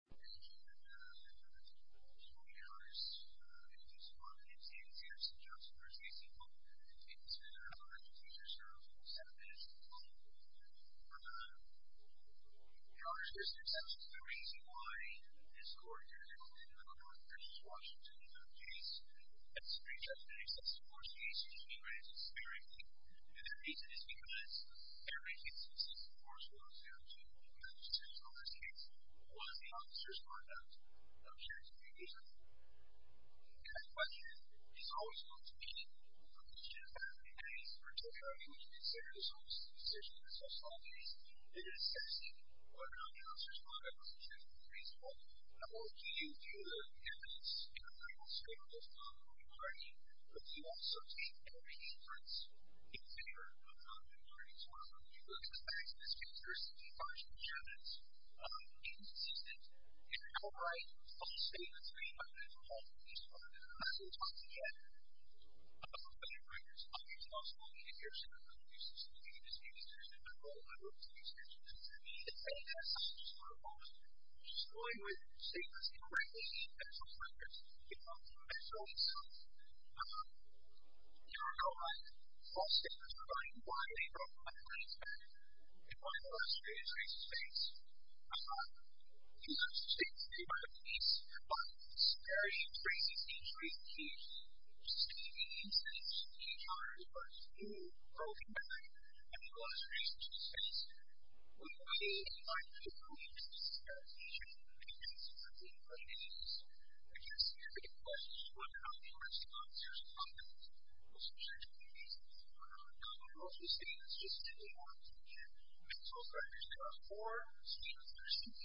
I admit that I touched upon those running honors, and took some on of them, CHS and Johnson versus Simcox, and took this on up in future, so 7 minutes in time, I was gonna talk aboutase now. The honors Mr. Simpson, the reason why his court did it, and on our case versus Washington's case, let me straight up say, since Ymas Christie's hearing, the reason is because, in every instance in the court, the Washington 86th fiscal, last case, was the officer's conduct, that I'm sure is pretty reasonable. And my question is, is always going to be, from the Chief of Staff, and the Attorney's Particulary, when you consider this officer's decision, and the social case, is it assessing whether or not the officer's conduct was a genuine reason, or do you view the evidence, in the final state of the law, for the party, but do you also take every inference, in favor of how the party's working, or benefits? If my question is, to participate in the case, one considers each rating key, of each of the institutions, which we will be talking about, has a huge potential in the Washington State system. Would we find it okay to read the statutes in the federal court? Because, look folks, Mr. Looks, we're afraid that the resources that Congress, holds these issues, as federal agent, are cut from this state. And it's just getting more complicated. Maxwell's records cover four state institutions,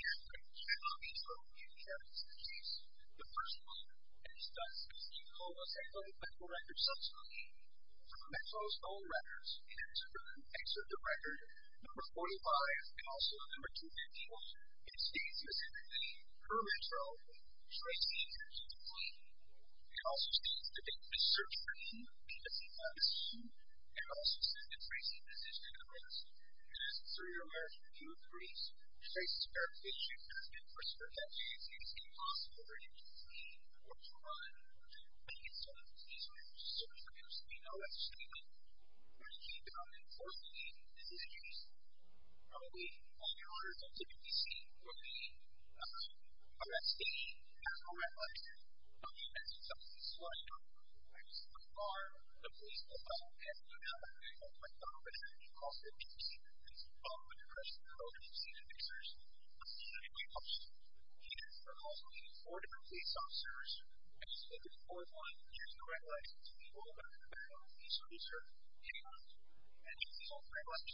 and each federal agent will be in charge of this case. The first one, and it's done, is to call the federal records subsequently, from Maxwell's own records, and to then, insert the record, number 45, and also number 251, and it states specifically, per Maxwell, trace the agency to claim. It also states the date of the search for him, and the sequence, and also states the tracing position of the arrest, and it's three or more, two or threes, traces verification, and then, for search activities, it is impossible for him to claim, or to run. And so, these are some of the things that we know at the state level. We're going to keep on enforcing these decisions. We, on your orders, at the D.C., will be, arresting, and arresting, the men and women, who have been slaughtered, or who have been raped, on the farm, at the police depot, and, you know, at my department, at the law firm, at D.C., and so on, when you press the code and you see the pictures, that's the way it works. We are also meeting four different police officers, and just looking for one, here's who I like, to be able to work with him, and he's a loser. Anyone else? And if he's all three of us,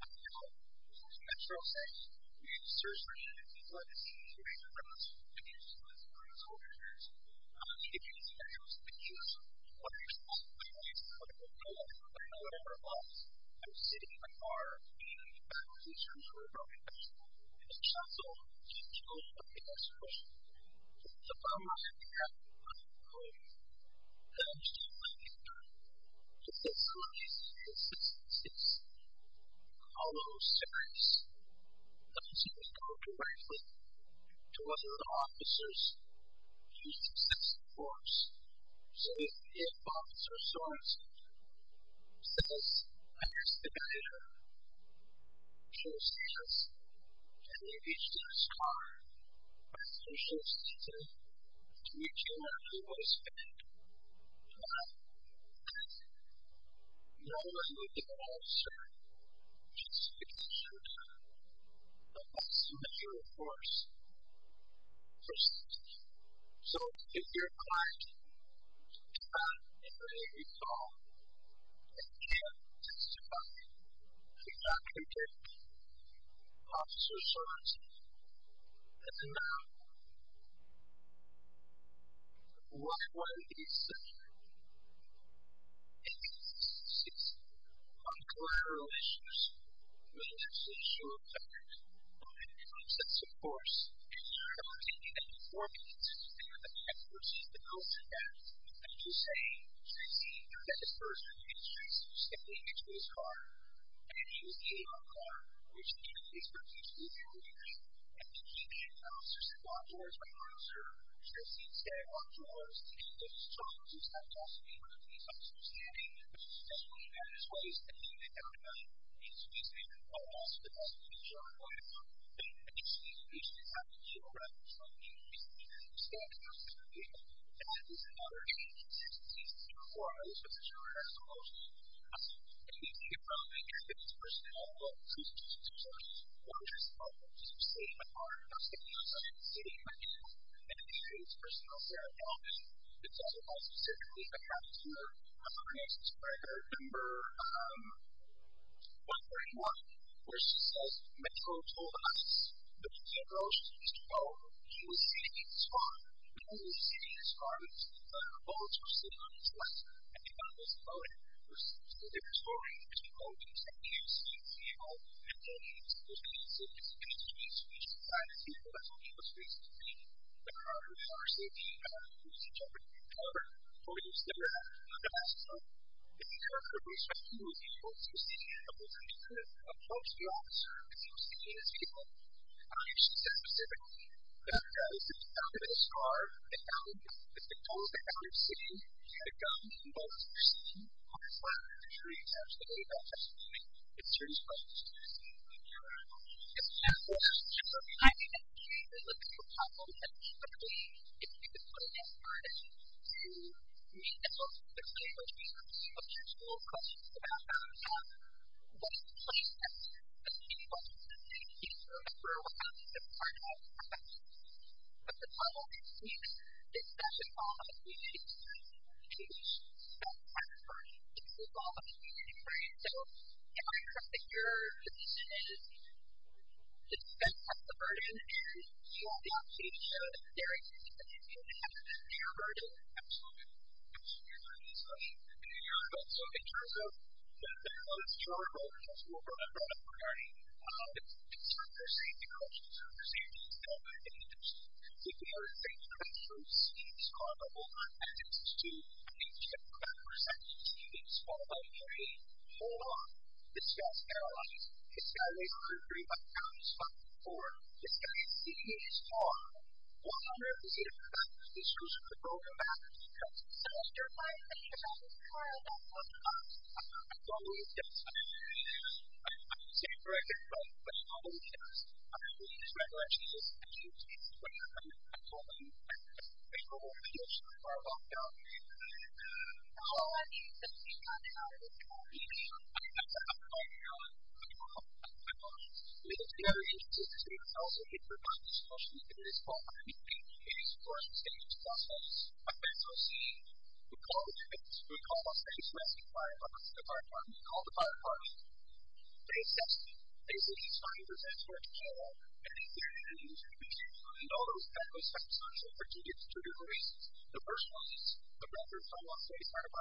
I'm out. So, that's what I'm saying. We need to search for him, and if he's not at the scene, he's going to be arrested, and used as a police officer. I'm going to need to get his address in the U.S. I'm in the U.S., CH こんな portugao? I dunno where I am... I'm sitting here, and our 1986 police bond commercial didn't do so well in the U.S. So don't worry about that. I'm good. I'm just going to wait so when we see who's on the 66thoodaddysecretary, I'll go in and look, and I'll see if he's going to be him, to other officers he is subject to force. So if Officer Sorensen says, I'm your supervisor, she'll say yes, and you reach to his car, but if you should see him, you do not know what is fake, do not, click, no one will give an answer, just because you do, unless you have your force perceived. So if your client does not behave at all, and can't testify, do not contact Officer Sorensen. And now, what will he say? If he sees uncollateral issues, which is a social effect, of any kind, that's a force, and you're not taking any form against any of the members, the person that, I'm just saying, she sees, you're that person, and she reaches simply into his car, and you see him in the car, which he is not used to behaving in, and he can, Officer Sorensen walks towards my car, Officer Sorensen stands at my door, and he looks shocked, and starts asking me where the police officer is standing, and he says, well, he's got his waist, and he's got a gun, and so he's standing in front of the hospital, and so I'm going to go, and he says, he should have to show reference to the police officer, and he does, and he stands in front of the hospital, figure it out, it's okay, he's right there, he's standing up at our gate, and I was in my h suspension, and he said, I could see his arms, but the shoulder had some motion to it, and so he came in, and his personal policeman says, well just stay in my car, upstairs is empty, so stay in my cabin. And it's his personal car again, and it doesn't add to my experience, I remember one point in one, where she says, Metro told us, that he approached Mr. Bowen, he was sitting in his car, Bowen was sitting in his car, Bowen was sitting on his lap, and he thought he was floating, so he was falling, he couldn't see, he couldn't see himself, and then he was receiving, he was receiving speech, and that's how he was receiving. The car was largely being used for trafficking, however, when he was sitting in the passenger seat, the intern who was talking to him, he was sitting in the passenger seat, and he couldn't approach the officer because he was sitting in his vehicle. And I should say specifically that the guy who was sitting at the top of his car and now he's in the middle of the heavy city, he had a gun and he was receiving on his lap, and it was very intentionally that they were accidentally stabbing him while they were shooting him, because they were curious and they wanted to know what their 你的 motive was to create a system for the user to know why so so so so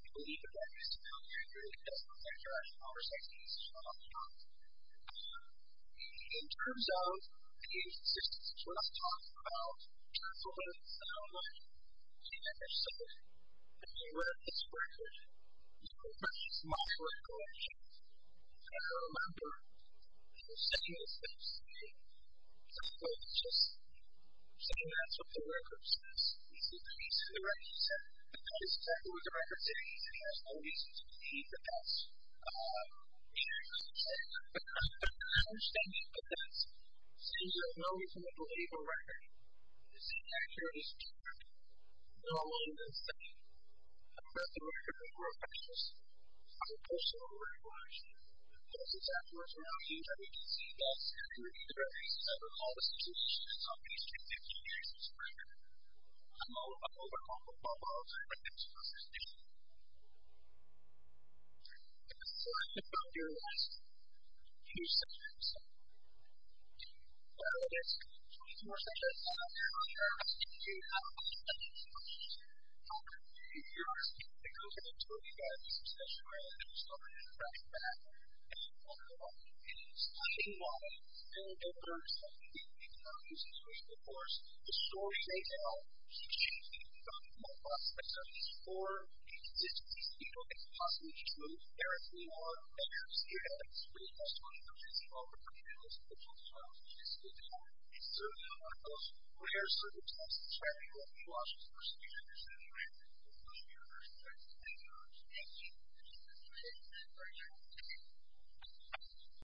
so so so so